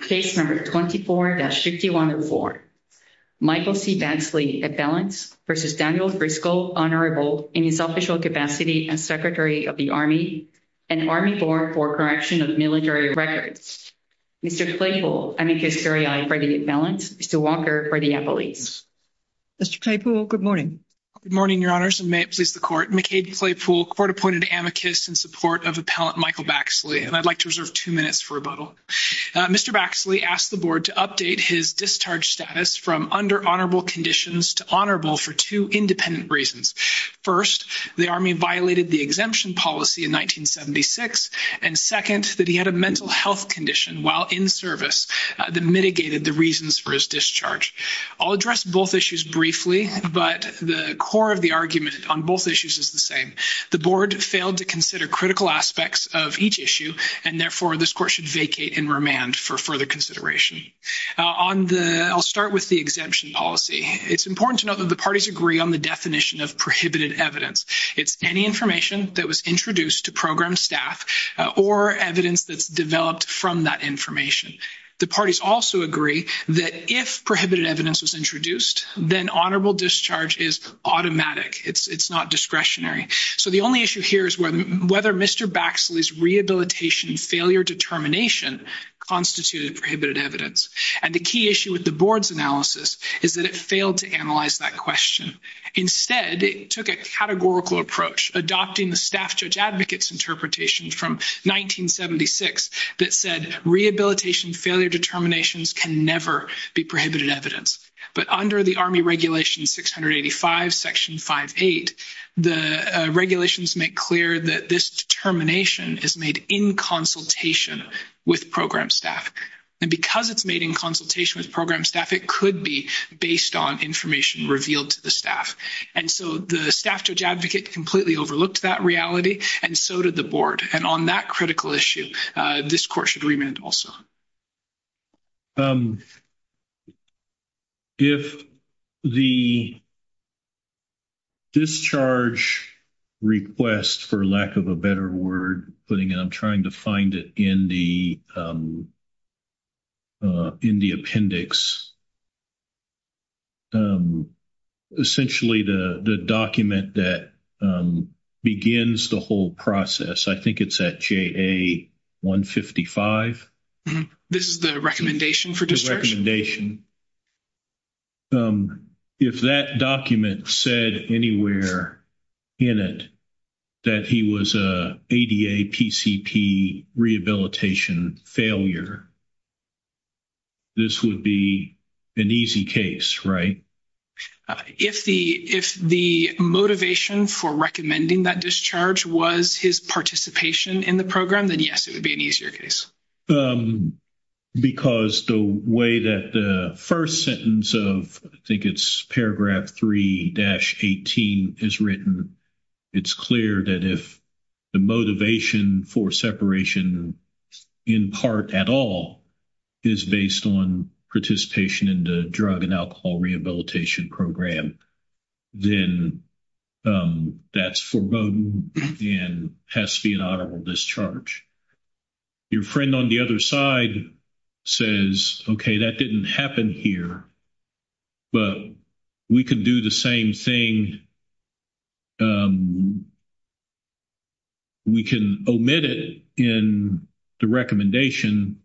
Case No. 24-5104. Michael C. Baxley, appellant, v. Daniel Driscoll, Honorable, in his official capacity as Secretary of the Army and Army Board for Correction of Military Records. Mr. Claypool, amicus veriae, appellant, Mr. Walker, appellate. Mr. Claypool, good morning. Good morning, Your Honors, and may it please the Court. McCade Claypool, court-appointed amicus in support of appellant Michael Baxley, and I'd like to reserve two minutes for rebuttal. Mr. Baxley asked the Board to update his discharge status from under honorable conditions to honorable for two independent reasons. First, the Army violated the exemption policy in 1976, and second, that he had a mental health condition while in service that mitigated the reasons for his discharge. I'll address both issues briefly, but the core of the argument on both issues is the same. The Board failed to consider critical aspects of each issue, and therefore this Court should vacate and remand for further consideration. I'll start with the exemption policy. It's important to note that the parties agree on the definition of prohibited evidence. It's any information that was introduced to program staff or evidence that's developed from that information. The parties also agree that if prohibited evidence was introduced, then honorable discharge is automatic. It's not discretionary. So the only issue here is whether Mr. Baxley's rehabilitation failure determination constituted prohibited evidence. And the key issue with the Board's analysis is that it failed to analyze that question. Instead, it took a categorical approach, adopting the staff judge advocate's interpretation from 1976 that said rehabilitation failure determinations can never be prohibited evidence. But under the Army Regulation 685, Section 5.8, the regulations make clear that this determination is made in consultation with program staff. And because it's made in consultation with program staff, it could be based on information revealed to the staff. And so the staff judge advocate completely overlooked that reality, and so did the Board. And on that critical issue, this Court should remand also. If the discharge request, for lack of a better word, putting it, I'm trying to find it in the appendix. Essentially, the document that begins the whole process, I think it's at JA 155. This is the recommendation for discharge? If that document said anywhere in it that he was a ADA PCP rehabilitation failure, this would be an easy case, right? If the motivation for recommending that discharge was his participation in the program, then yes, it would be an easier case. Because the way that the first sentence of, I think it's paragraph 3-18 is written, it's clear that if the motivation for separation in part at all is based on participation in the drug and alcohol rehabilitation program, then that's foreboding and has to be an honorable discharge. Your friend on the other side says, okay, that didn't happen here, but we can do the same thing. We can omit it in the recommendation,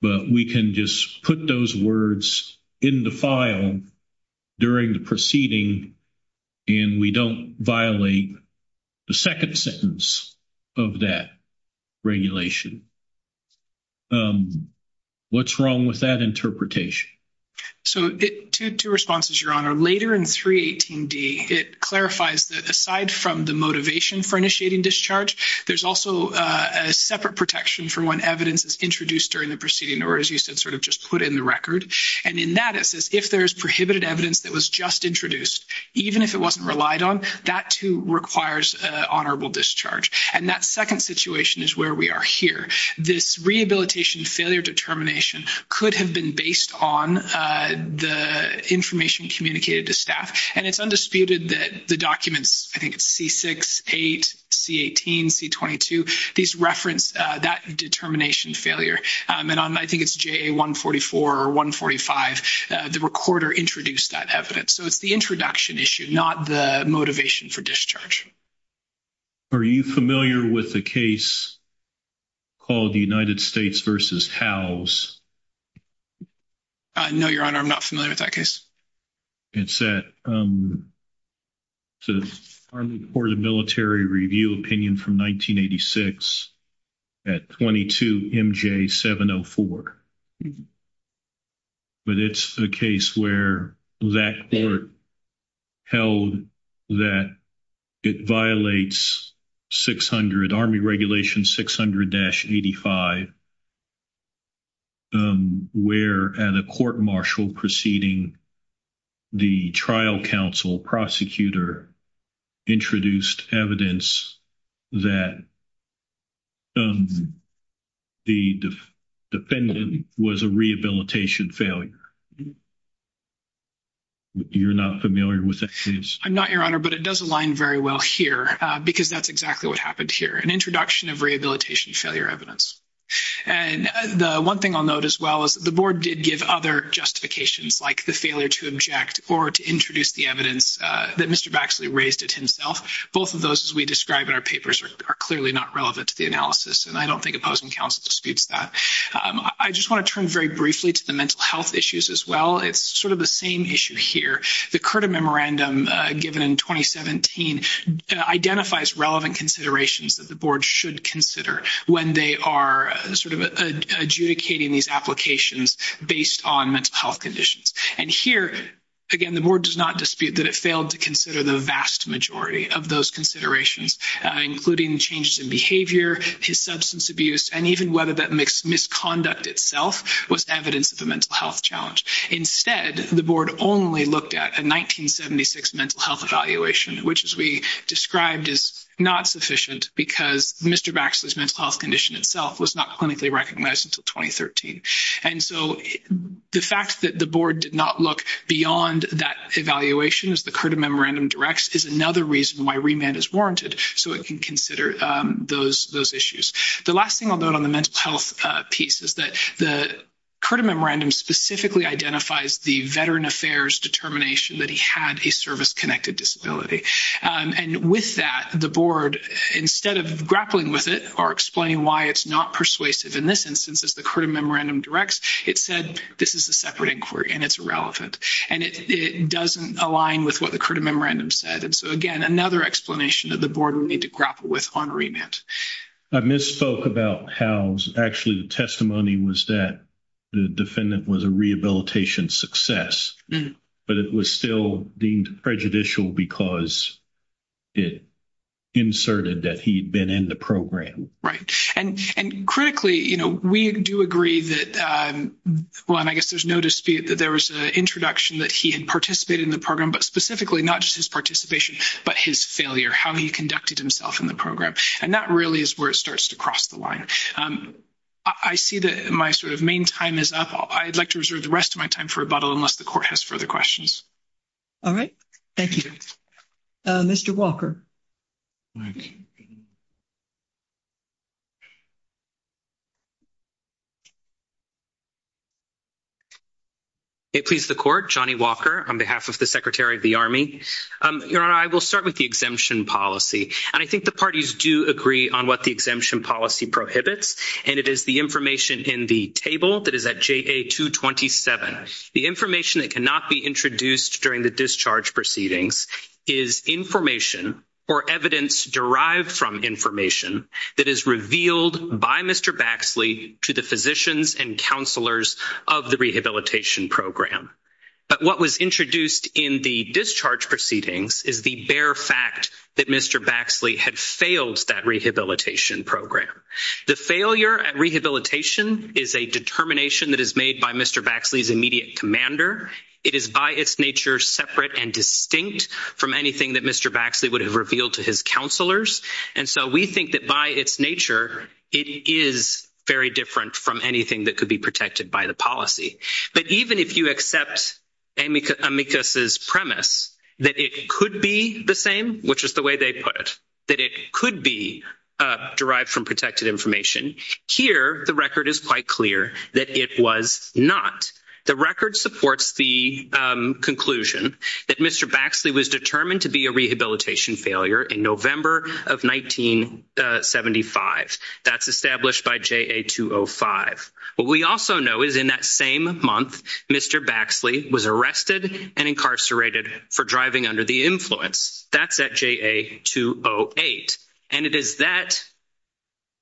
but we can just put those words in the file during the proceeding, and we don't violate the second sentence of that regulation. What's wrong with that interpretation? So, two responses, Your Honor. Later in 3-18d, it clarifies that aside from the motivation for initiating discharge, there's also a separate protection for when evidence is introduced during the proceeding, or as you said, sort of just put in the record. And in that, it says if there's prohibited evidence that was just introduced, even if it wasn't relied on, that, too, requires honorable discharge. And that second situation is where we are here. This rehabilitation failure determination could have been based on the information communicated to staff, and it's undisputed that the documents, I think it's C-6, 8, C-18, C-22, these reference that determination failure. And I think it's JA-144 or 145, the recorder introduced that evidence. So, it's the introduction issue, not the motivation for discharge. Are you familiar with the case called the United States v. Howes? No, Your Honor, I'm not familiar with that case. It's the Army Court of Military Review opinion from 1986 at 22MJ704. But it's a case where that court held that it violates 600, Army Regulation 600-85, where at a court-martial proceeding, the trial counsel prosecutor introduced evidence that the defendant was a rehabilitation failure. You're not familiar with that case? I'm not, Your Honor, but it does align very well here because that's exactly what happened here, an introduction of rehabilitation failure evidence. And the one thing I'll note as well is the board did give other justifications, like the failure to object or to introduce the evidence that Mr. Baxley raised it himself. Both of those, as we describe in our papers, are clearly not relevant to the analysis, and I don't think opposing counsel disputes that. I just want to turn very briefly to the mental health issues as well. It's sort of the same issue here. The CURTA memorandum given in 2017 identifies relevant considerations that the board should consider when they are sort of adjudicating these applications based on mental health conditions. And here, again, the board does not dispute that it failed to consider the vast majority of those considerations, including changes in behavior, his substance abuse, and even whether that misconduct itself was evidence of a mental health challenge. Instead, the board only looked at a 1976 mental health evaluation, which, as we described, is not sufficient because Mr. Baxley's mental health condition itself was not clinically recognized until 2013. And so the fact that the board did not look beyond that evaluation, as the CURTA memorandum directs, is another reason why remand is warranted so it can consider those issues. The last thing I'll note on the mental health piece is that the CURTA memorandum specifically identifies the veteran affairs determination that he had a service-connected disability. And with that, the board, instead of grappling with it or explaining why it's not persuasive in this instance, as the CURTA memorandum directs, it said this is a separate inquiry and it's irrelevant. And it doesn't align with what the CURTA memorandum said. And so, again, another explanation that the board would need to grapple with on remand. I misspoke about how actually the testimony was that the defendant was a rehabilitation success, but it was still deemed prejudicial because it inserted that he had been in the program. Right. And critically, you know, we do agree that, well, and I guess there's no dispute that there was an introduction that he had participated in the program, but specifically not just his participation, but his failure, how he conducted himself in the program. And that really is where it starts to cross the line. I see that my sort of main time is up. I'd like to reserve the rest of my time for rebuttal unless the court has further questions. All right. Thank you. Mr. Walker. It please the court. Johnny Walker on behalf of the Secretary of the Army. Your Honor, I will start with the exemption policy. And I think the parties do agree on what the exemption policy prohibits, and it is the information in the table that is at JA-227. The information that cannot be introduced during the discharge proceedings is information or evidence derived from information that is revealed by Mr. Baxley to the physicians and counselors of the rehabilitation program. But what was introduced in the discharge proceedings is the bare fact that Mr. Baxley had failed that rehabilitation program. The failure at rehabilitation is a determination that is made by Mr. Baxley's immediate commander. It is by its nature separate and distinct from anything that Mr. Baxley would have revealed to his counselors. And so we think that by its nature, it is very different from anything that could be protected by the policy. But even if you accept Amicus's premise that it could be the same, which is the way they put it, that it could be derived from protected information, here the record is quite clear that it was not. The record supports the conclusion that Mr. Baxley was determined to be a rehabilitation failure in November of 1975. That's established by JA-205. What we also know is in that same month, Mr. Baxley was arrested and incarcerated for driving under the influence. That's at JA-208. And it is that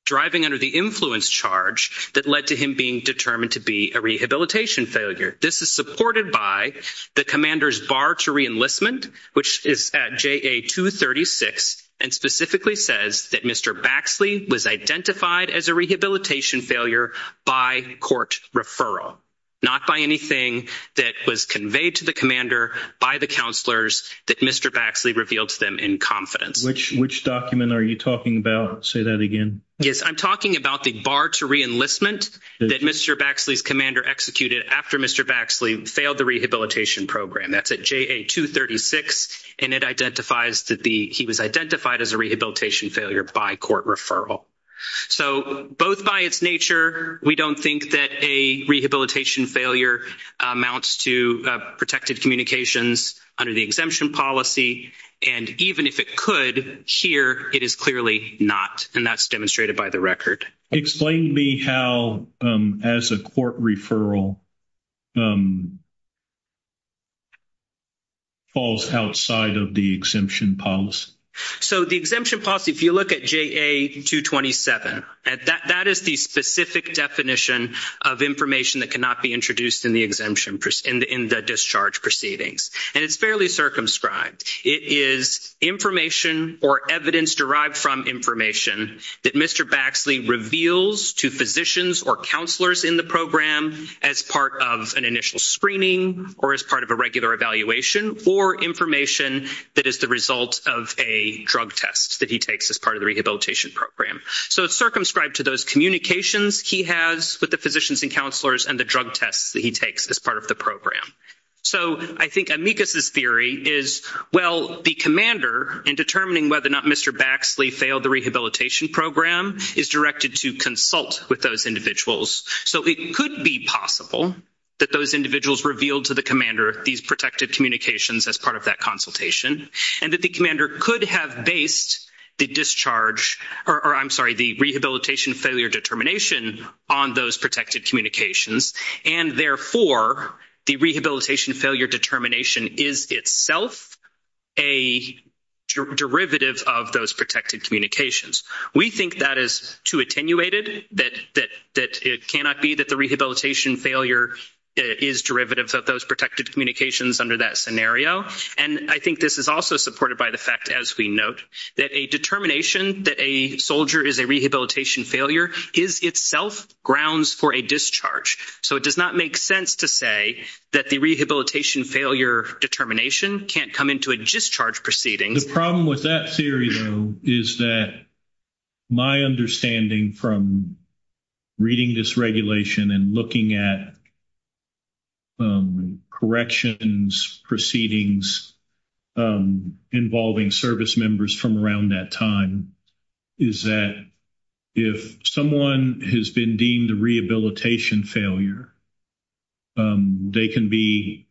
driving under the influence charge that led to him being determined to be a rehabilitation failure. This is supported by the commander's bar to reenlistment, which is at JA-236, and specifically says that Mr. Baxley was identified as a rehabilitation failure by court referral, not by anything that was conveyed to the commander by the counselors that Mr. Baxley revealed to them in confidence. Which document are you talking about? Say that again. Yes, I'm talking about the bar to reenlistment that Mr. Baxley's commander executed after Mr. Baxley failed the rehabilitation program. That's at JA-236. And it identifies that he was identified as a rehabilitation failure by court referral. So both by its nature, we don't think that a rehabilitation failure amounts to protected communications under the exemption policy. And even if it could here, it is clearly not. And that's demonstrated by the record. Explain to me how as a court referral falls outside of the exemption policy. So the exemption policy, if you look at JA-227, that is the specific definition of information that cannot be introduced in the exemption, in the discharge proceedings. And it's fairly circumscribed. It is information or evidence derived from information that Mr. Baxley reveals to physicians or counselors in the program as part of an initial screening or as part of a regular evaluation or information that is the result of a drug test that he takes as part of the rehabilitation program. So it's circumscribed to those communications he has with the physicians and counselors and the drug tests that he takes as part of the program. So I think amicus' theory is, well, the commander in determining whether or not Mr. Baxley failed the rehabilitation program is directed to consult with those individuals. So it could be possible that those individuals revealed to the commander these protected communications as part of that consultation. And that the commander could have based the discharge, or I'm sorry, the rehabilitation failure determination on those protected communications. And therefore, the rehabilitation failure determination is itself a derivative of those protected communications. We think that is too attenuated, that it cannot be that the rehabilitation failure is derivative of those protected communications under that scenario. And I think this is also supported by the fact, as we note, that a determination that a soldier is a rehabilitation failure is itself grounds for a discharge. So it does not make sense to say that the rehabilitation failure determination can't come into a discharge proceeding. The problem with that theory, though, is that my understanding from reading this regulation and looking at corrections, proceedings involving service members from around that time is that if someone has been deemed a rehabilitation failure, they can be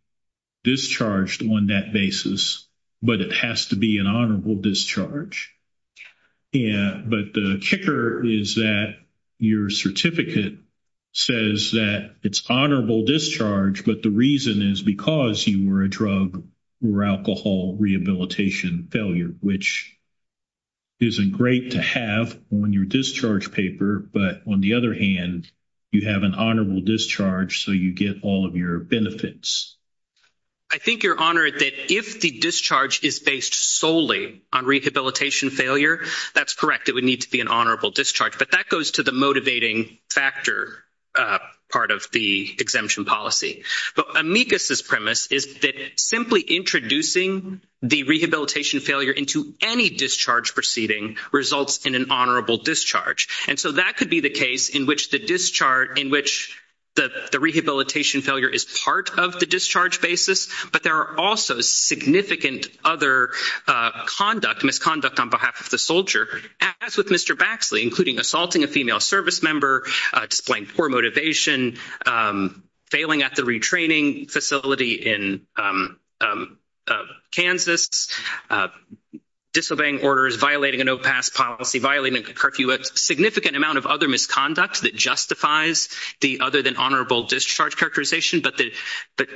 discharged on that basis, but it has to be an honorable discharge. But the kicker is that your certificate says that it's honorable discharge, but the reason is because you were a drug or alcohol rehabilitation failure, which isn't great to have on your discharge paper. But on the other hand, you have an honorable discharge, so you get all of your benefits. I think you're honored that if the discharge is based solely on rehabilitation failure, that's correct. It would need to be an honorable discharge, but that goes to the motivating factor part of the exemption policy. But amicus' premise is that simply introducing the rehabilitation failure into any discharge proceeding results in an honorable discharge. And so that could be the case in which the rehabilitation failure is part of the discharge basis, but there are also significant other misconduct on behalf of the soldier, as with Mr. Baxley, including assaulting a female service member, displaying poor motivation, failing at the retraining facility in Kansas, disobeying orders, violating a no-pass policy, violating a curfew, a significant amount of other misconduct that justifies the other than honorable discharge characterization. But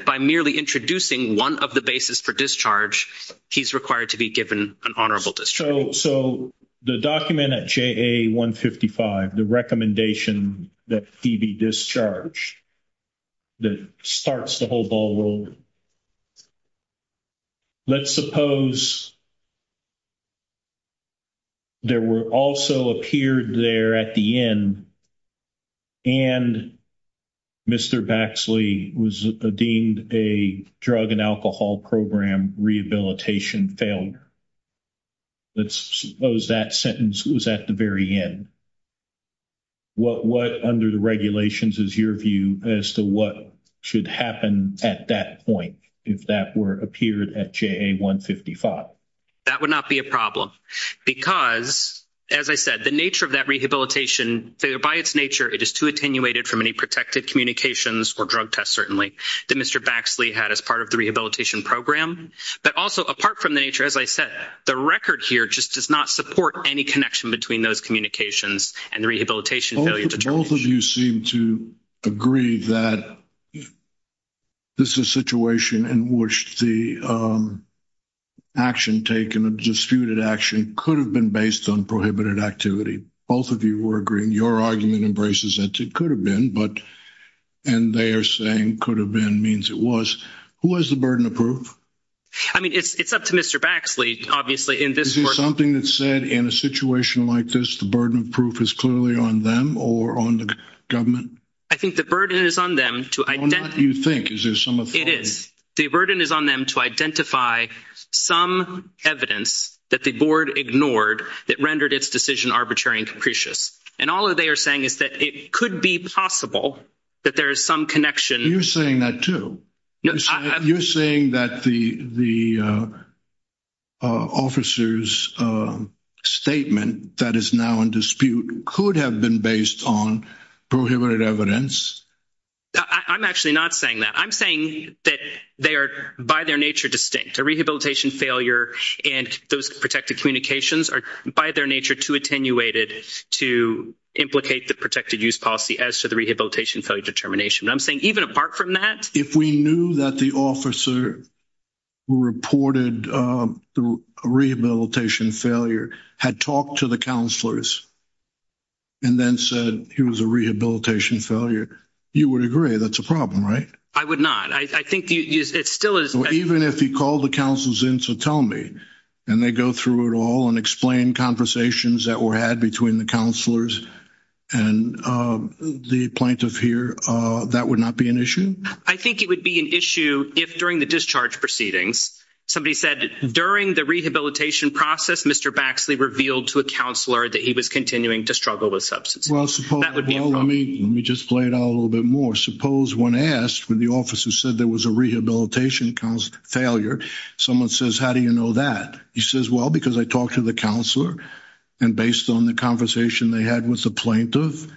by merely introducing one of the basis for discharge, he's required to be given an honorable discharge. So the document at JA-155, the recommendation that he be discharged, that starts the whole ball rolling. Let's suppose there were also appeared there at the end and Mr. Baxley was deemed a drug and alcohol program rehabilitation failure. Let's suppose that sentence was at the very end. What under the regulations is your view as to what should happen at that point if that were appeared at JA-155? That would not be a problem because, as I said, the nature of that rehabilitation failure, by its nature, it is too attenuated from any protected communications or drug tests, certainly, that Mr. Baxley had as part of the rehabilitation program. But also, apart from the nature, as I said, the record here just does not support any connection between those communications and the rehabilitation failure determination. Both of you seem to agree that this is a situation in which the action taken, a disputed action could have been based on prohibited activity. Both of you were agreeing. Your argument embraces that it could have been, and they are saying could have been means it was. Who has the burden of proof? I mean, it's up to Mr. Baxley, obviously, in this court. Is there something that's said in a situation like this, the burden of proof is clearly on them or on the government? I think the burden is on them to identify. No, not you think. Is there some authority? It is. The burden is on them to identify some evidence that the board ignored that rendered its decision arbitrary and capricious. And all they are saying is that it could be possible that there is some connection. You're saying that, too. You're saying that the officer's statement that is now in dispute could have been based on prohibited evidence? I'm actually not saying that. I'm saying that they are, by their nature, distinct. A rehabilitation failure and those protected communications are, by their nature, too attenuated to implicate the protected use policy as to the rehabilitation failure determination. I'm saying even apart from that. If we knew that the officer reported a rehabilitation failure, had talked to the counselors, and then said he was a rehabilitation failure, you would agree that's a problem, right? I would not. I think it still is. Even if he called the counselors in to tell me, and they go through it all and explain conversations that were had between the counselors and the plaintiff here, that would not be an issue? I think it would be an issue if, during the discharge proceedings, somebody said, during the rehabilitation process, Mr. Baxley revealed to a counselor that he was continuing to struggle with substance abuse. Well, let me just play it out a little bit more. Suppose when asked, when the officer said there was a rehabilitation failure, someone says, how do you know that? He says, well, because I talked to the counselor, and based on the conversation they had with the plaintiff,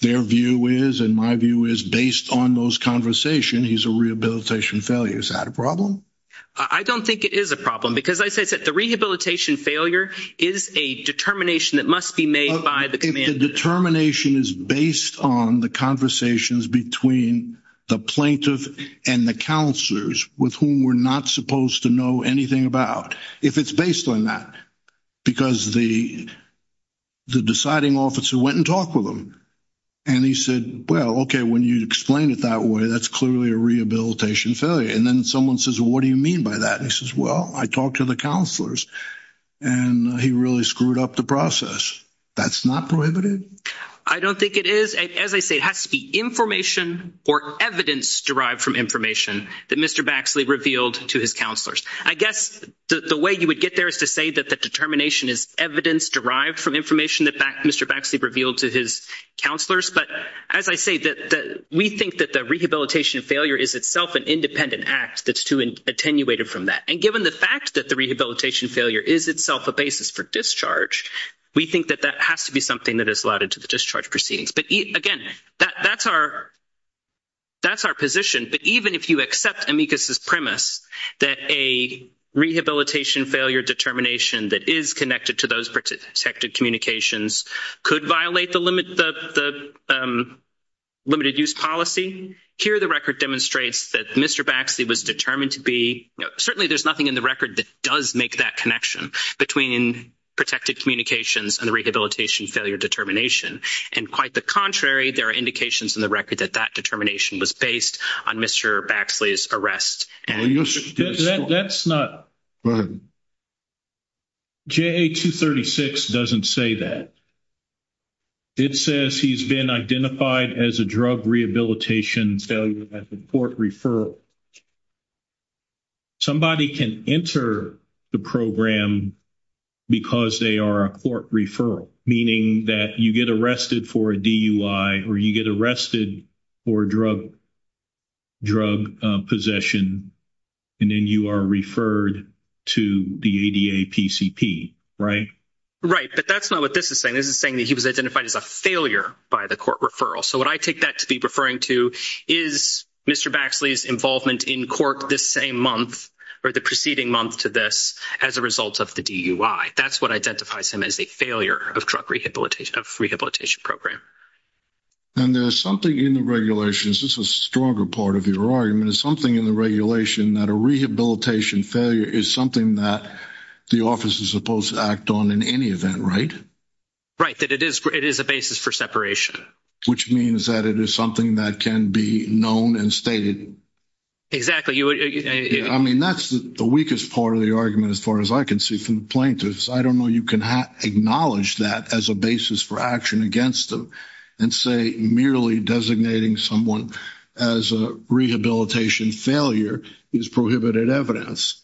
their view is, and my view is, based on those conversations, he's a rehabilitation failure. Is that a problem? I don't think it is a problem because, as I said, the rehabilitation failure is a determination that must be made by the commander. The determination is based on the conversations between the plaintiff and the counselors, with whom we're not supposed to know anything about, if it's based on that. Because the deciding officer went and talked with him, and he said, well, okay, when you explain it that way, that's clearly a rehabilitation failure. And then someone says, well, what do you mean by that? He says, well, I talked to the counselors, and he really screwed up the process. That's not prohibited? I don't think it is. As I say, it has to be information or evidence derived from information that Mr. Baxley revealed to his counselors. I guess the way you would get there is to say that the determination is evidence derived from information that Mr. Baxley revealed to his counselors. But as I say, we think that the rehabilitation failure is itself an independent act that's attenuated from that. And given the fact that the rehabilitation failure is itself a basis for discharge, we think that that has to be something that is allotted to the discharge proceedings. But, again, that's our position. But even if you accept amicus' premise that a rehabilitation failure determination that is connected to those protected communications could violate the limited-use policy, here the record demonstrates that Mr. Baxley was determined to be – certainly there's nothing in the record that does make that connection between protected communications and the rehabilitation failure determination. And quite the contrary, there are indications in the record that that determination was based on Mr. Baxley's arrest. That's not – JA-236 doesn't say that. It says he's been identified as a drug rehabilitation failure at the court referral. Somebody can enter the program because they are a court referral, meaning that you get arrested for a DUI or you get arrested for drug possession, and then you are referred to the ADA PCP, right? Right, but that's not what this is saying. This is saying that he was identified as a failure by the court referral. So what I take that to be referring to is Mr. Baxley's involvement in court this same month or the preceding month to this as a result of the DUI. That's what identifies him as a failure of drug rehabilitation – of rehabilitation program. And there's something in the regulations – this is a stronger part of your argument – there's something in the regulation that a rehabilitation failure is something that the office is supposed to act on in any event, right? Right, that it is a basis for separation. Which means that it is something that can be known and stated. Exactly. I mean, that's the weakest part of the argument as far as I can see from the plaintiffs. I don't know you can acknowledge that as a basis for action against them and say merely designating someone as a rehabilitation failure is prohibited evidence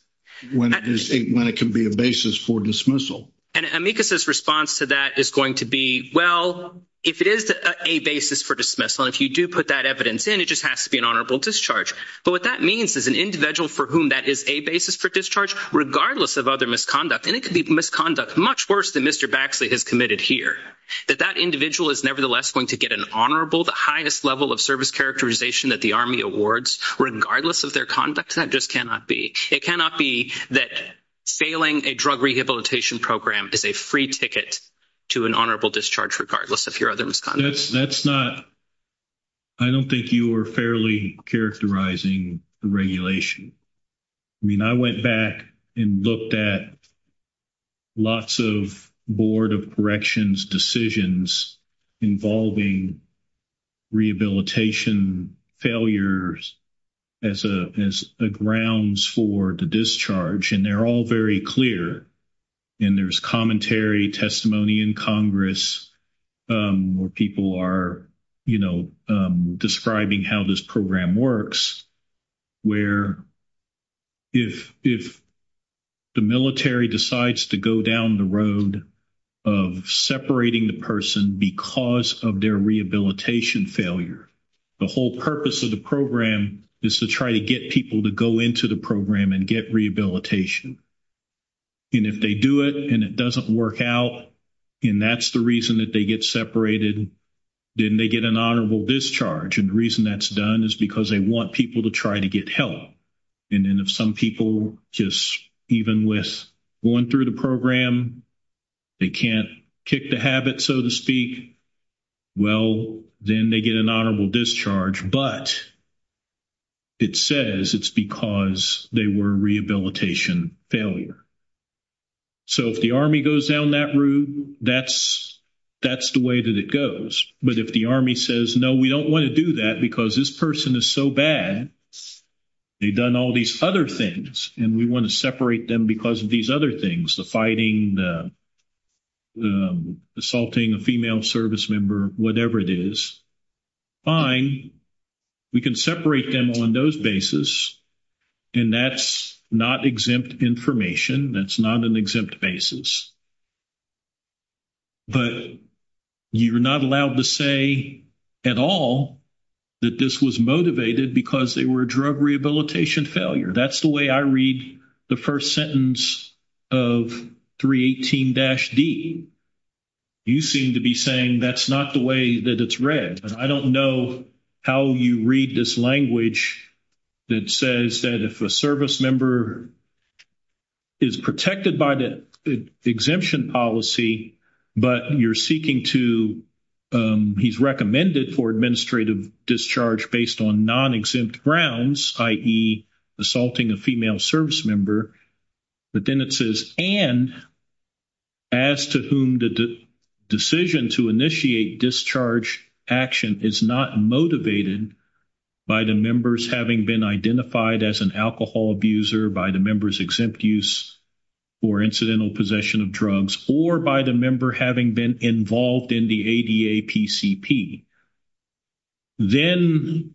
when it can be a basis for dismissal. And amicus' response to that is going to be, well, if it is a basis for dismissal and if you do put that evidence in, it just has to be an honorable discharge. But what that means is an individual for whom that is a basis for discharge regardless of other misconduct – and it could be misconduct much worse than Mr. Baxley has committed here – that that individual is nevertheless going to get an honorable, the highest level of service characterization that the Army awards regardless of their conduct. That just cannot be. It cannot be that failing a drug rehabilitation program is a free ticket to an honorable discharge regardless of your other misconduct. That's not – I don't think you are fairly characterizing the regulation. I mean, I went back and looked at lots of Board of Corrections decisions involving rehabilitation failures as grounds for the discharge, and they're all very clear. And there's commentary, testimony in Congress where people are, you know, describing how this program works, where if the military decides to go down the road of separating the person because of their rehabilitation failure, the whole purpose of the program is to try to get people to go into the program and get rehabilitation. And if they do it and it doesn't work out and that's the reason that they get separated, then they get an honorable discharge. And the reason that's done is because they want people to try to get help. And then if some people just, even with going through the program, they can't kick the habit, so to speak, well, then they get an honorable discharge, but it says it's because they were a rehabilitation failure. So if the Army goes down that route, that's the way that it goes. But if the Army says, no, we don't want to do that because this person is so bad, they've done all these other things, and we want to separate them because of these other things, the fighting, the assaulting a female service member, whatever it is, fine. We can separate them on those basis, and that's not exempt information. That's not an exempt basis. But you're not allowed to say at all that this was motivated because they were a drug rehabilitation failure. That's the way I read the first sentence of 318-D. You seem to be saying that's not the way that it's read. I don't know how you read this language that says that if a service member is protected by the exemption policy, but you're seeking to – he's recommended for administrative discharge based on non-exempt grounds, i.e., assaulting a female service member. But then it says, and as to whom the decision to initiate discharge action is not motivated by the members having been identified as an alcohol abuser, by the members' exempt use or incidental possession of drugs, or by the member having been involved in the ADA PCP, then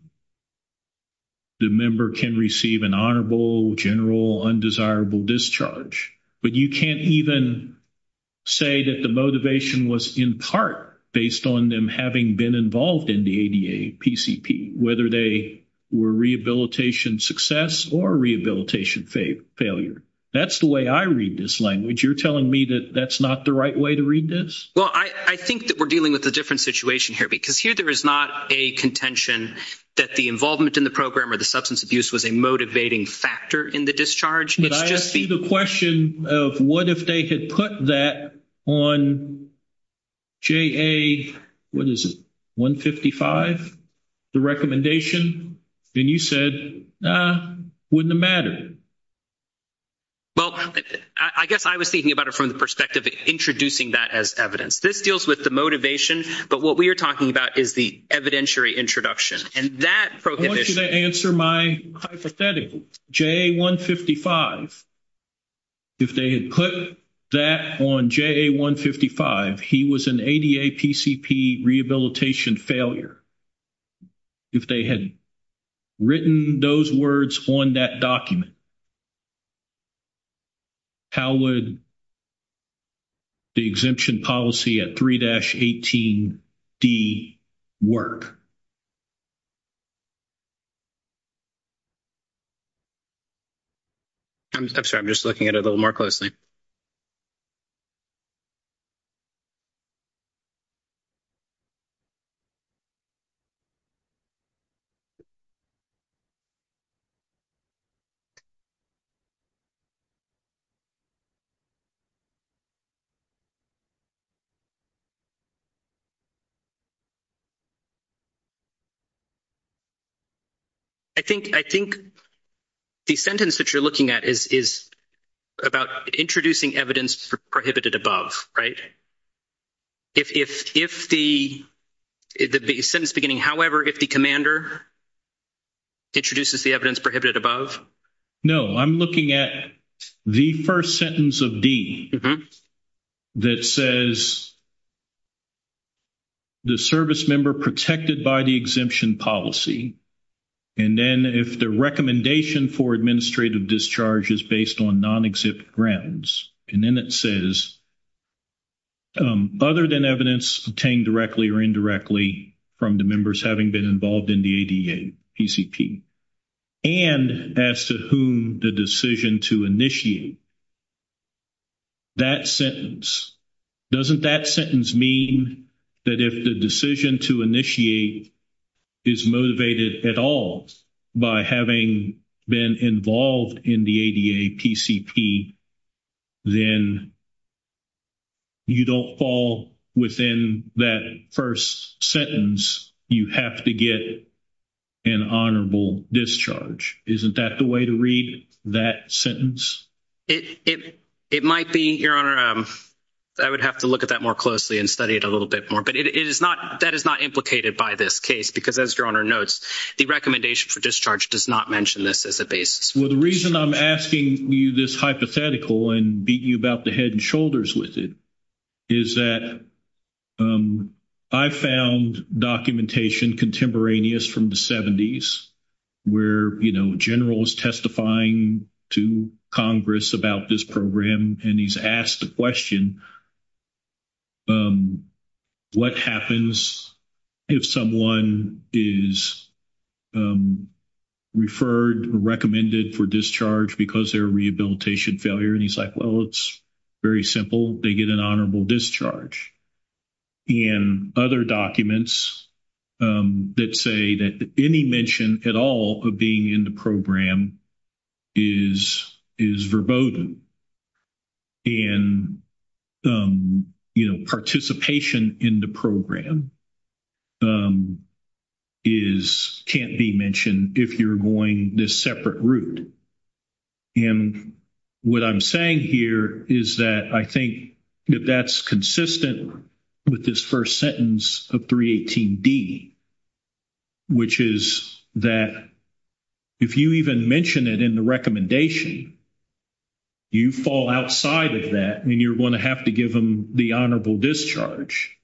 the member can receive an honorable, general, undesirable discharge. But you can't even say that the motivation was in part based on them having been involved in the ADA PCP, whether they were rehabilitation success or rehabilitation failure. That's the way I read this language. You're telling me that that's not the right way to read this? Well, I think that we're dealing with a different situation here because here there is not a contention that the involvement in the program or the substance abuse was a motivating factor in the discharge. I asked you the question of what if they had put that on JA, what is it, 155, the recommendation? And you said, nah, wouldn't have mattered. Well, I guess I was thinking about it from the perspective of introducing that as evidence. This deals with the motivation, but what we are talking about is the evidentiary introduction. I want you to answer my hypothetical. JA 155, if they had put that on JA 155, he was an ADA PCP rehabilitation failure. If they had written those words on that document, how would the exemption policy at 3-18D work? I'm sorry. I'm just looking at it a little more closely. I think the sentence that you're looking at is about introducing evidence for prohibited above, right? If the sentence beginning, however, if the commander introduces the evidence prohibited above? No, I'm looking at the first sentence of D that says the service member protected by the exemption policy, and then if the recommendation for administrative discharge is based on non-exempt grounds, and then it says other than evidence obtained directly or indirectly from the members having been involved in the ADA PCP, and as to whom the decision to initiate, that sentence, doesn't that sentence mean that if the decision to initiate is motivated at all by having been involved in the ADA PCP, then you don't fall within that first sentence. You have to get an honorable discharge. Isn't that the way to read that sentence? It might be, Your Honor. I would have to look at that more closely and study it a little bit more, but it is not, that is not implicated by this case because as Your Honor notes, the recommendation for discharge does not mention this as a basis. Well, the reason I'm asking you this hypothetical and beating you about the head and shoulders with it is that I found documentation contemporaneous from the 70s where, you know, the general is testifying to Congress about this program and he's asked the question, what happens if someone is referred or recommended for discharge because their rehabilitation failure? And he's like, well, it's very simple. They get an honorable discharge. And other documents that say that any mention at all of being in the program is verboten. And, you know, participation in the program is, can't be mentioned if you're going this separate route. And what I'm saying here is that I think that that's consistent with this first sentence of 318D, which is that if you even mention it in the recommendation, you fall outside of that and you're going to have to give them the honorable discharge.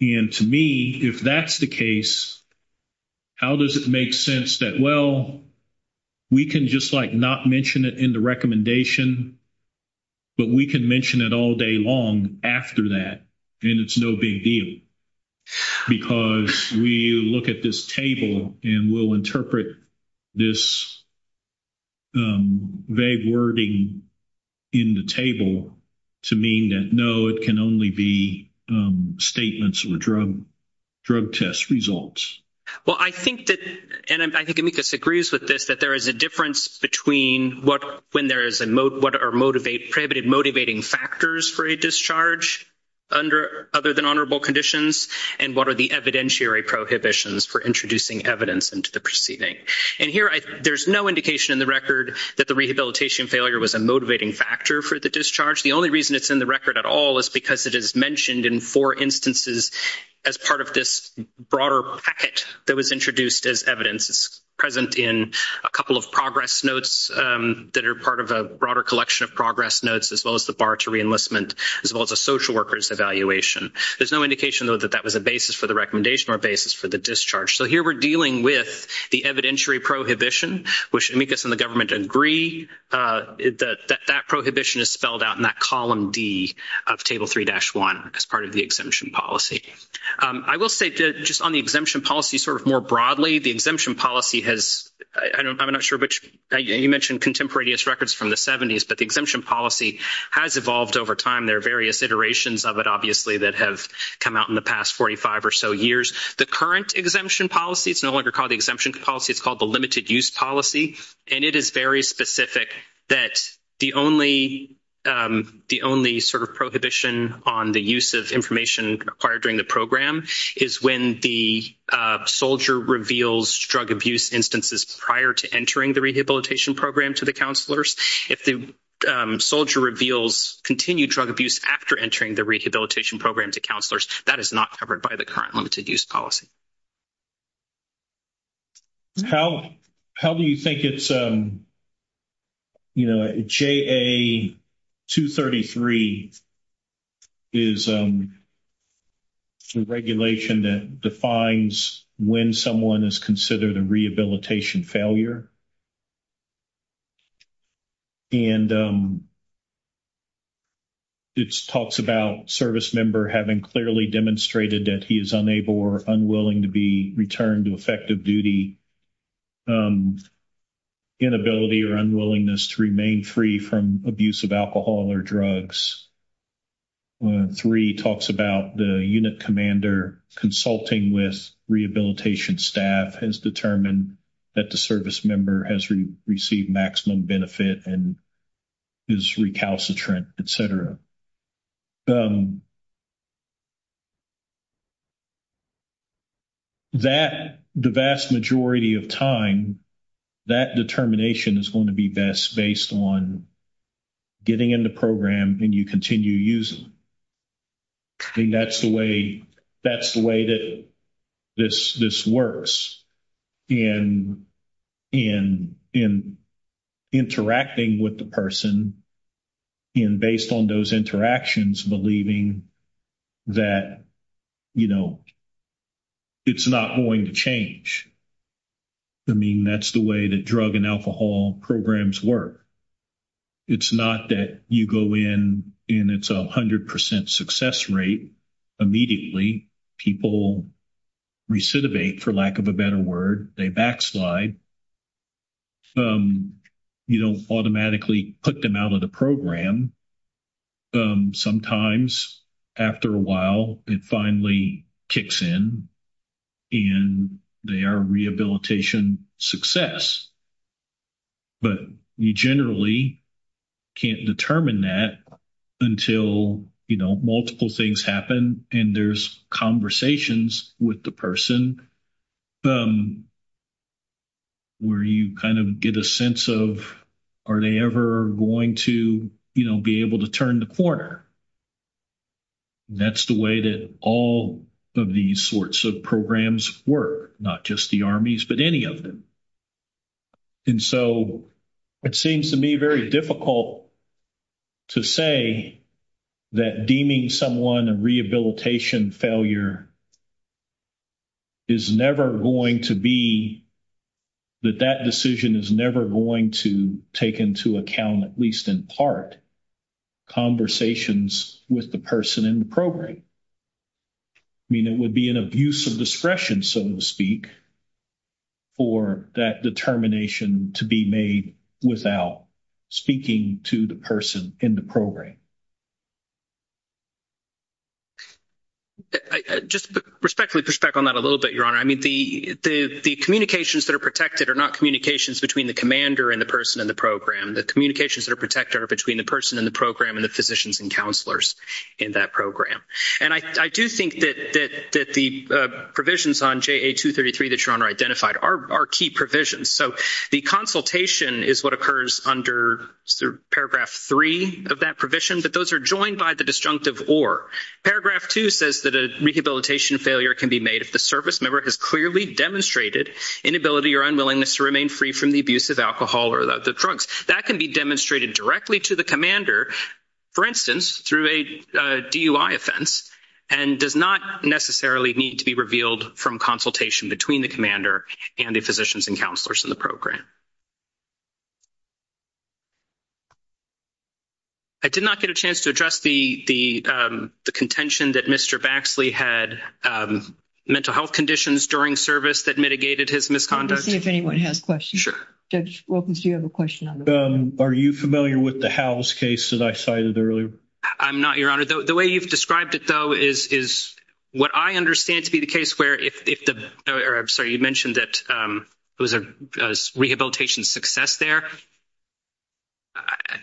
And to me, if that's the case, how does it make sense that, well, we can just like not mention it in the recommendation, but we can mention it all day long after that and it's no big deal because we look at this table and we'll interpret this vague wording in the table to mean that, no, it can only be statements or drug test results. Well, I think that, and I think Amicus agrees with this, that there is a difference between what, when there is a, what are motivated, prohibited motivating factors for a discharge under, other than honorable conditions and what are the evidentiary prohibitions for introducing evidence into the proceeding. And here, there's no indication in the record that the rehabilitation failure was a motivating factor for the discharge. The only reason it's in the record at all is because it is mentioned in four instances as part of this broader packet that was introduced as evidence. It's present in a couple of progress notes that are part of a broader collection of progress notes, as well as the bar to re-enlistment, as well as a social worker's evaluation. There's no indication, though, that that was a basis for the recommendation or a basis for the discharge. So here, we're dealing with the evidentiary prohibition, which Amicus and the government agree, that that prohibition is spelled out in that column D of table 3-1 as part of the exemption policy. I will say just on the exemption policy sort of more broadly, the exemption policy has, I'm not sure which, you mentioned contemporaneous records from the 70s, but the exemption policy has evolved over time. There are various iterations of it, obviously, that have come out in the past 45 or so years. The current exemption policy is no longer called the exemption policy. It's called the limited-use policy. And it is very specific that the only sort of prohibition on the use of information required during the program is when the soldier reveals drug abuse instances prior to entering the rehabilitation program to the counselors. If the soldier reveals continued drug abuse after entering the rehabilitation program to counselors, that is not covered by the current limited-use policy. How do you think it's, you know, JA-233 is a regulation that defines when someone is considered a rehabilitation failure? And it talks about service member having clearly demonstrated that he is unable or unwilling to be returned to effective duty, inability or unwillingness to remain free from abuse of alcohol or drugs. JA-233 talks about the unit commander consulting with rehabilitation staff has determined that the service member has received maximum benefit and is recalcitrant, et cetera. That the vast majority of time, that determination is going to be best based on getting in the program and you continue using it. I think that's the way that this works. And interacting with the person and based on those interactions, believing that, you know, it's not going to change. I mean, that's the way that drug and alcohol programs work. It's not that you go in and it's a 100 percent success rate immediately. People recidivate, for lack of a better word. They backslide. You don't automatically put them out of the program. Sometimes after a while, it finally kicks in and they are rehabilitation success. But you generally can't determine that until, you know, multiple things happen and there's conversations with the person where you kind of get a sense of, are they ever going to, you know, be able to turn the corner? That's the way that all of these sorts of programs work, not just the armies, but any of them. And so it seems to me very difficult to say that deeming someone a rehabilitation failure is never going to be, I mean, it would be an abuse of discretion, so to speak, for that determination to be made without speaking to the person in the program. Just respectfully push back on that a little bit, Your Honor. I mean, the communications that are protected are not communications between the commander and the person in the program. The communications that are protected are between the person in the program and the physicians and counselors in that program. And I do think that the provisions on JA-233 that Your Honor identified are key provisions. So the consultation is what occurs under Paragraph 3 of that provision, but those are joined by the disjunctive or. Paragraph 2 says that a rehabilitation failure can be made if the service member has clearly demonstrated inability or unwillingness to remain free from the abuse of alcohol or the drunks. That can be demonstrated directly to the commander, for instance, through a DUI offense and does not necessarily need to be revealed from consultation between the commander and the physicians and counselors in the program. I did not get a chance to address the contention that Mr. Baxley had mental health conditions during service that mitigated his misconduct. Let me see if anyone has questions. Sure. Judge Wilkins, do you have a question on this? Are you familiar with the Howells case that I cited earlier? I'm not, Your Honor. The way you've described it, though, is what I understand to be the case where if the – or I'm sorry, you mentioned that it was a rehabilitation success there.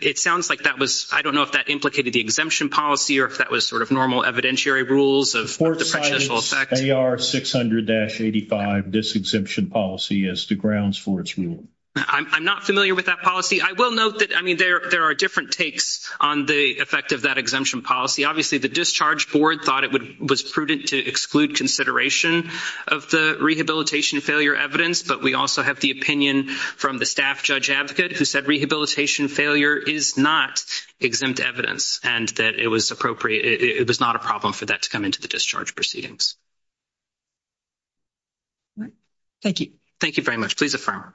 It sounds like that was – I don't know if that implicated the exemption policy or if that was sort of normal evidentiary rules of the prejudicial effect. AR 600-85, this exemption policy, is the grounds for its ruling. I'm not familiar with that policy. I will note that, I mean, there are different takes on the effect of that exemption policy. Obviously, the discharge board thought it was prudent to exclude consideration of the rehabilitation failure evidence, but we also have the opinion from the staff judge advocate who said rehabilitation failure is not exempt evidence and that it was appropriate – it was not a problem for that to come into the discharge proceedings. Thank you. Thank you very much. Please affirm.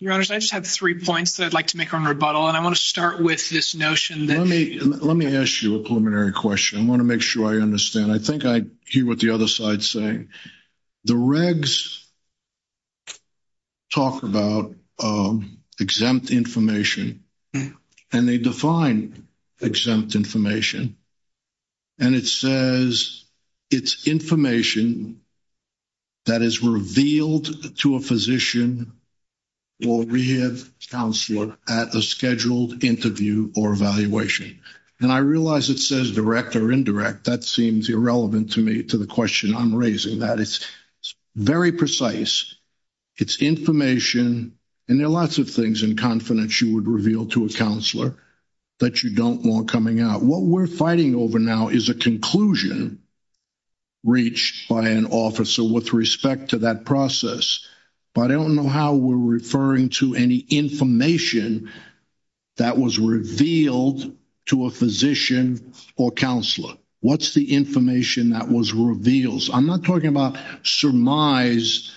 Your Honors, I just have three points that I'd like to make on rebuttal, and I want to start with this notion that – Let me ask you a preliminary question. I want to make sure I understand. I think I hear what the other side is saying. The regs talk about exempt information, and they define exempt information, and it says it's information that is revealed to a physician or rehab counselor at a scheduled interview or evaluation. And I realize it says direct or indirect. That seems irrelevant to me to the question I'm raising. That is very precise. It's information, and there are lots of things in confidence you would reveal to a counselor that you don't want coming out. What we're fighting over now is a conclusion reached by an officer with respect to that process, but I don't know how we're referring to any information that was revealed to a physician or counselor. What's the information that was revealed? I'm not talking about surmise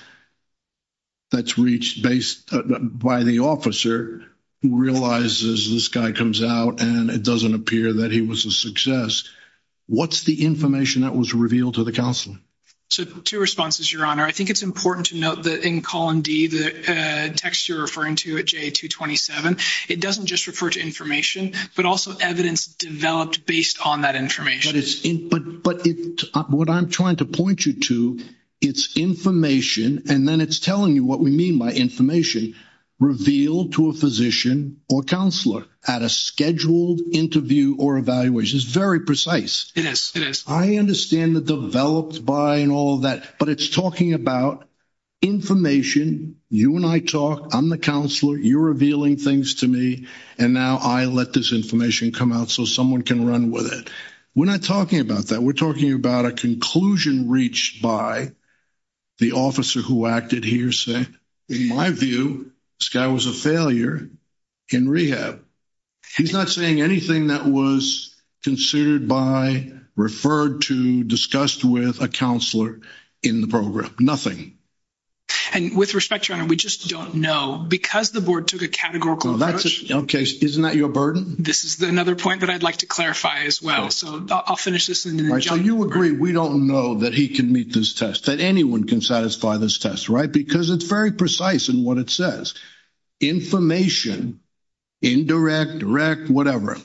that's reached by the officer who realizes this guy comes out, and it doesn't appear that he was a success. What's the information that was revealed to the counselor? Two responses, Your Honor. I think it's important to note that in column D, the text you're referring to at JA-227, it doesn't just refer to information, but also evidence developed based on that information. But what I'm trying to point you to, it's information, and then it's telling you what we mean by information revealed to a physician or counselor at a scheduled interview or evaluation. It's very precise. It is. It is. It's kind of developed by and all that, but it's talking about information. You and I talk. I'm the counselor. You're revealing things to me, and now I let this information come out so someone can run with it. We're not talking about that. We're talking about a conclusion reached by the officer who acted hearsay. In my view, this guy was a failure in rehab. He's not saying anything that was considered by, referred to, discussed with a counselor in the program. And with respect, Your Honor, we just don't know. Because the board took a categorical approach. Okay. Isn't that your burden? This is another point that I'd like to clarify as well. So I'll finish this in a jiffy. So you agree we don't know that he can meet this test, that anyone can satisfy this test, right? Because it's very precise in what it says. Information, indirect, direct, whatever,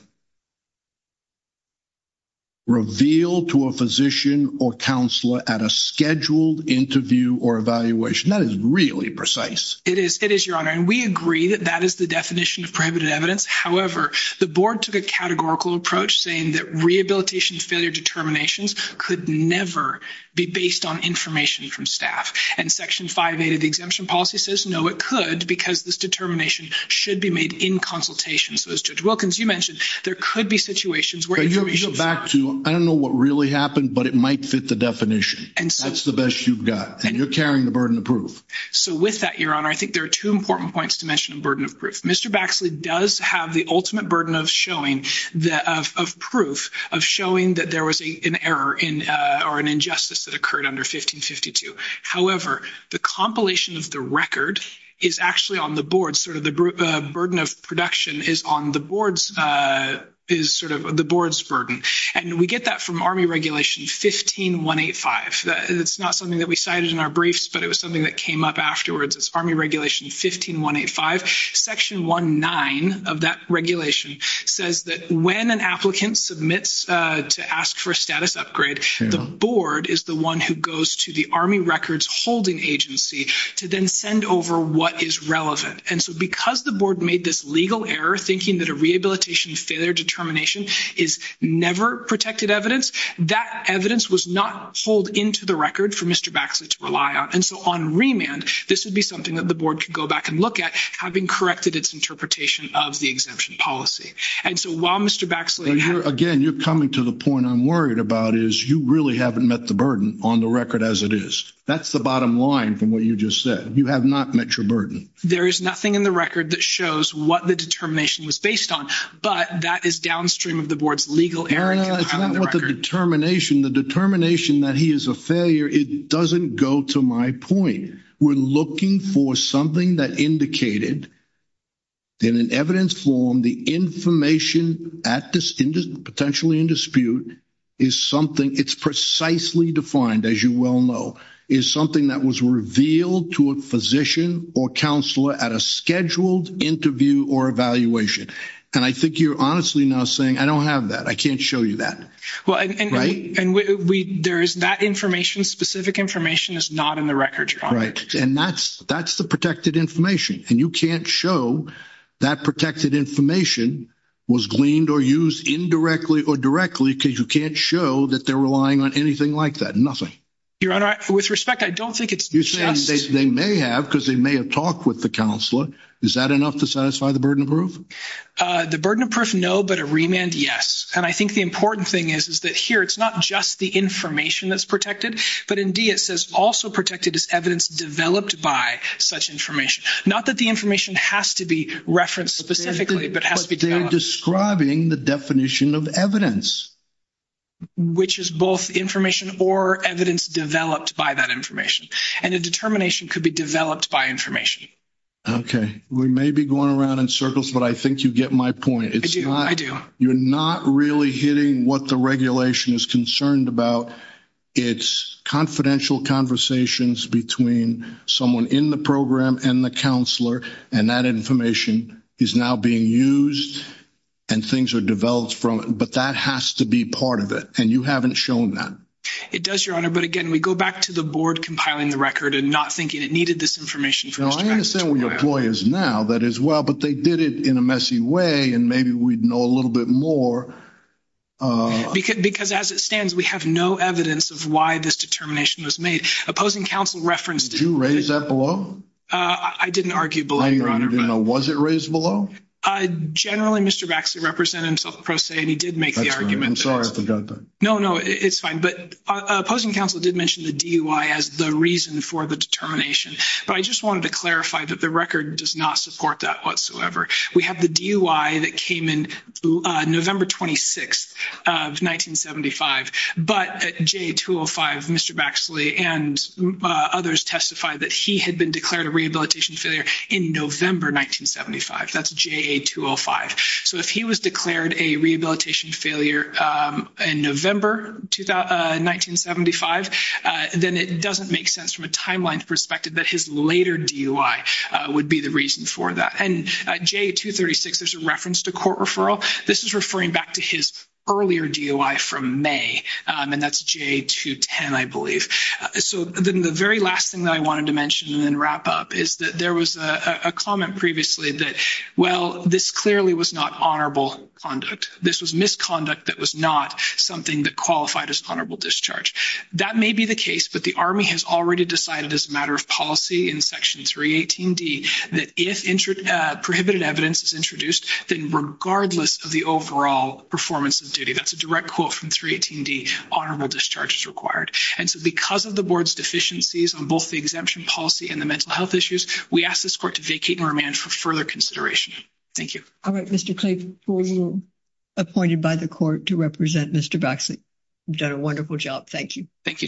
revealed to a physician or counselor at a scheduled interview or evaluation. That is really precise. It is, Your Honor. And we agree that that is the definition of prohibited evidence. However, the board took a categorical approach saying that rehabilitation failure determinations could never be based on information from staff. And Section 5A of the exemption policy says no, it could, because this determination should be made in consultation. So, as Judge Wilkins, you mentioned, there could be situations where information is not. You go back to, I don't know what really happened, but it might fit the definition. That's the best you've got. And you're carrying the burden of proof. So with that, Your Honor, I think there are two important points to mention in burden of proof. Mr. Baxley does have the ultimate burden of proof, of showing that there was an error or an injustice that occurred under 1552. However, the compilation of the record is actually on the board. Sort of the burden of production is on the board's burden. And we get that from Army Regulation 15185. It's not something that we cited in our briefs, but it was something that came up afterwards. It's Army Regulation 15185. Section 1.9 of that regulation says that when an applicant submits to ask for a status upgrade, the board is the one who goes to the Army Records Holding Agency to then send over what is relevant. And so because the board made this legal error, thinking that a rehabilitation failure determination is never protected evidence, that evidence was not pulled into the record for Mr. Baxley to rely on. And so on remand, this would be something that the board could go back and look at, having corrected its interpretation of the exemption policy. And so while Mr. Baxley – Again, you're coming to the point I'm worried about is you really haven't met the burden on the record as it is. That's the bottom line from what you just said. You have not met your burden. There is nothing in the record that shows what the determination was based on, but that is downstream of the board's legal error. It's not what the determination – the determination that he is a failure, it doesn't go to my point. We're looking for something that indicated in an evidence form the information at this – potentially in dispute is something – it's precisely defined, as you well know, is something that was revealed to a physician or counselor at a scheduled interview or evaluation. And I think you're honestly now saying, I don't have that. I can't show you that. Well, and we – there is that information, specific information is not in the record. Right. And that's the protected information, and you can't show that protected information was gleaned or used indirectly or directly because you can't show that they're relying on anything like that, nothing. Your Honor, with respect, I don't think it's just – You're saying they may have because they may have talked with the counselor. Is that enough to satisfy the burden of proof? The burden of proof, no, but a remand, yes. And I think the important thing is that here it's not just the information that's protected, but indeed it says also protected is evidence developed by such information. Not that the information has to be referenced specifically, but it has to be – But they're describing the definition of evidence. Which is both information or evidence developed by that information. And a determination could be developed by information. Okay. We may be going around in circles, but I think you get my point. I do, I do. You're not really hitting what the regulation is concerned about. It's confidential conversations between someone in the program and the counselor, and that information is now being used, and things are developed from it. But that has to be part of it, and you haven't shown that. It does, Your Honor, but again, we go back to the board compiling the record and not thinking it needed this information. No, I understand what your ploy is now, that is well, but they did it in a messy way, and maybe we'd know a little bit more. Because as it stands, we have no evidence of why this determination was made. Opposing counsel referenced it. Did you raise that below? I didn't argue below, Your Honor. Was it raised below? Generally, Mr. Baxley represented himself in pro se, and he did make the argument. I'm sorry, I forgot that. No, no, it's fine. But opposing counsel did mention the DUI as the reason for the determination. But I just wanted to clarify that the record does not support that whatsoever. We have the DUI that came in November 26th of 1975. But at JA-205, Mr. Baxley and others testified that he had been declared a rehabilitation failure in November 1975. That's JA-205. So if he was declared a rehabilitation failure in November 1975, then it doesn't make sense from a timeline perspective that his later DUI would be the reason for that. And JA-236, there's a reference to court referral. This is referring back to his earlier DUI from May, and that's JA-210, I believe. So then the very last thing that I wanted to mention and then wrap up is that there was a comment previously that, well, this clearly was not honorable conduct. This was misconduct that was not something that qualified as honorable discharge. That may be the case, but the Army has already decided as a matter of policy in prohibited evidence is introduced, then regardless of the overall performance of duty, that's a direct quote from 318D, honorable discharge is required. And so because of the board's deficiencies on both the exemption policy and the mental health issues, we ask this court to vacate and remand for further consideration. Thank you. All right, Mr. Clayton, you are appointed by the court to represent Mr. Baxley. You've done a wonderful job. Thank you. Thank you, Judge.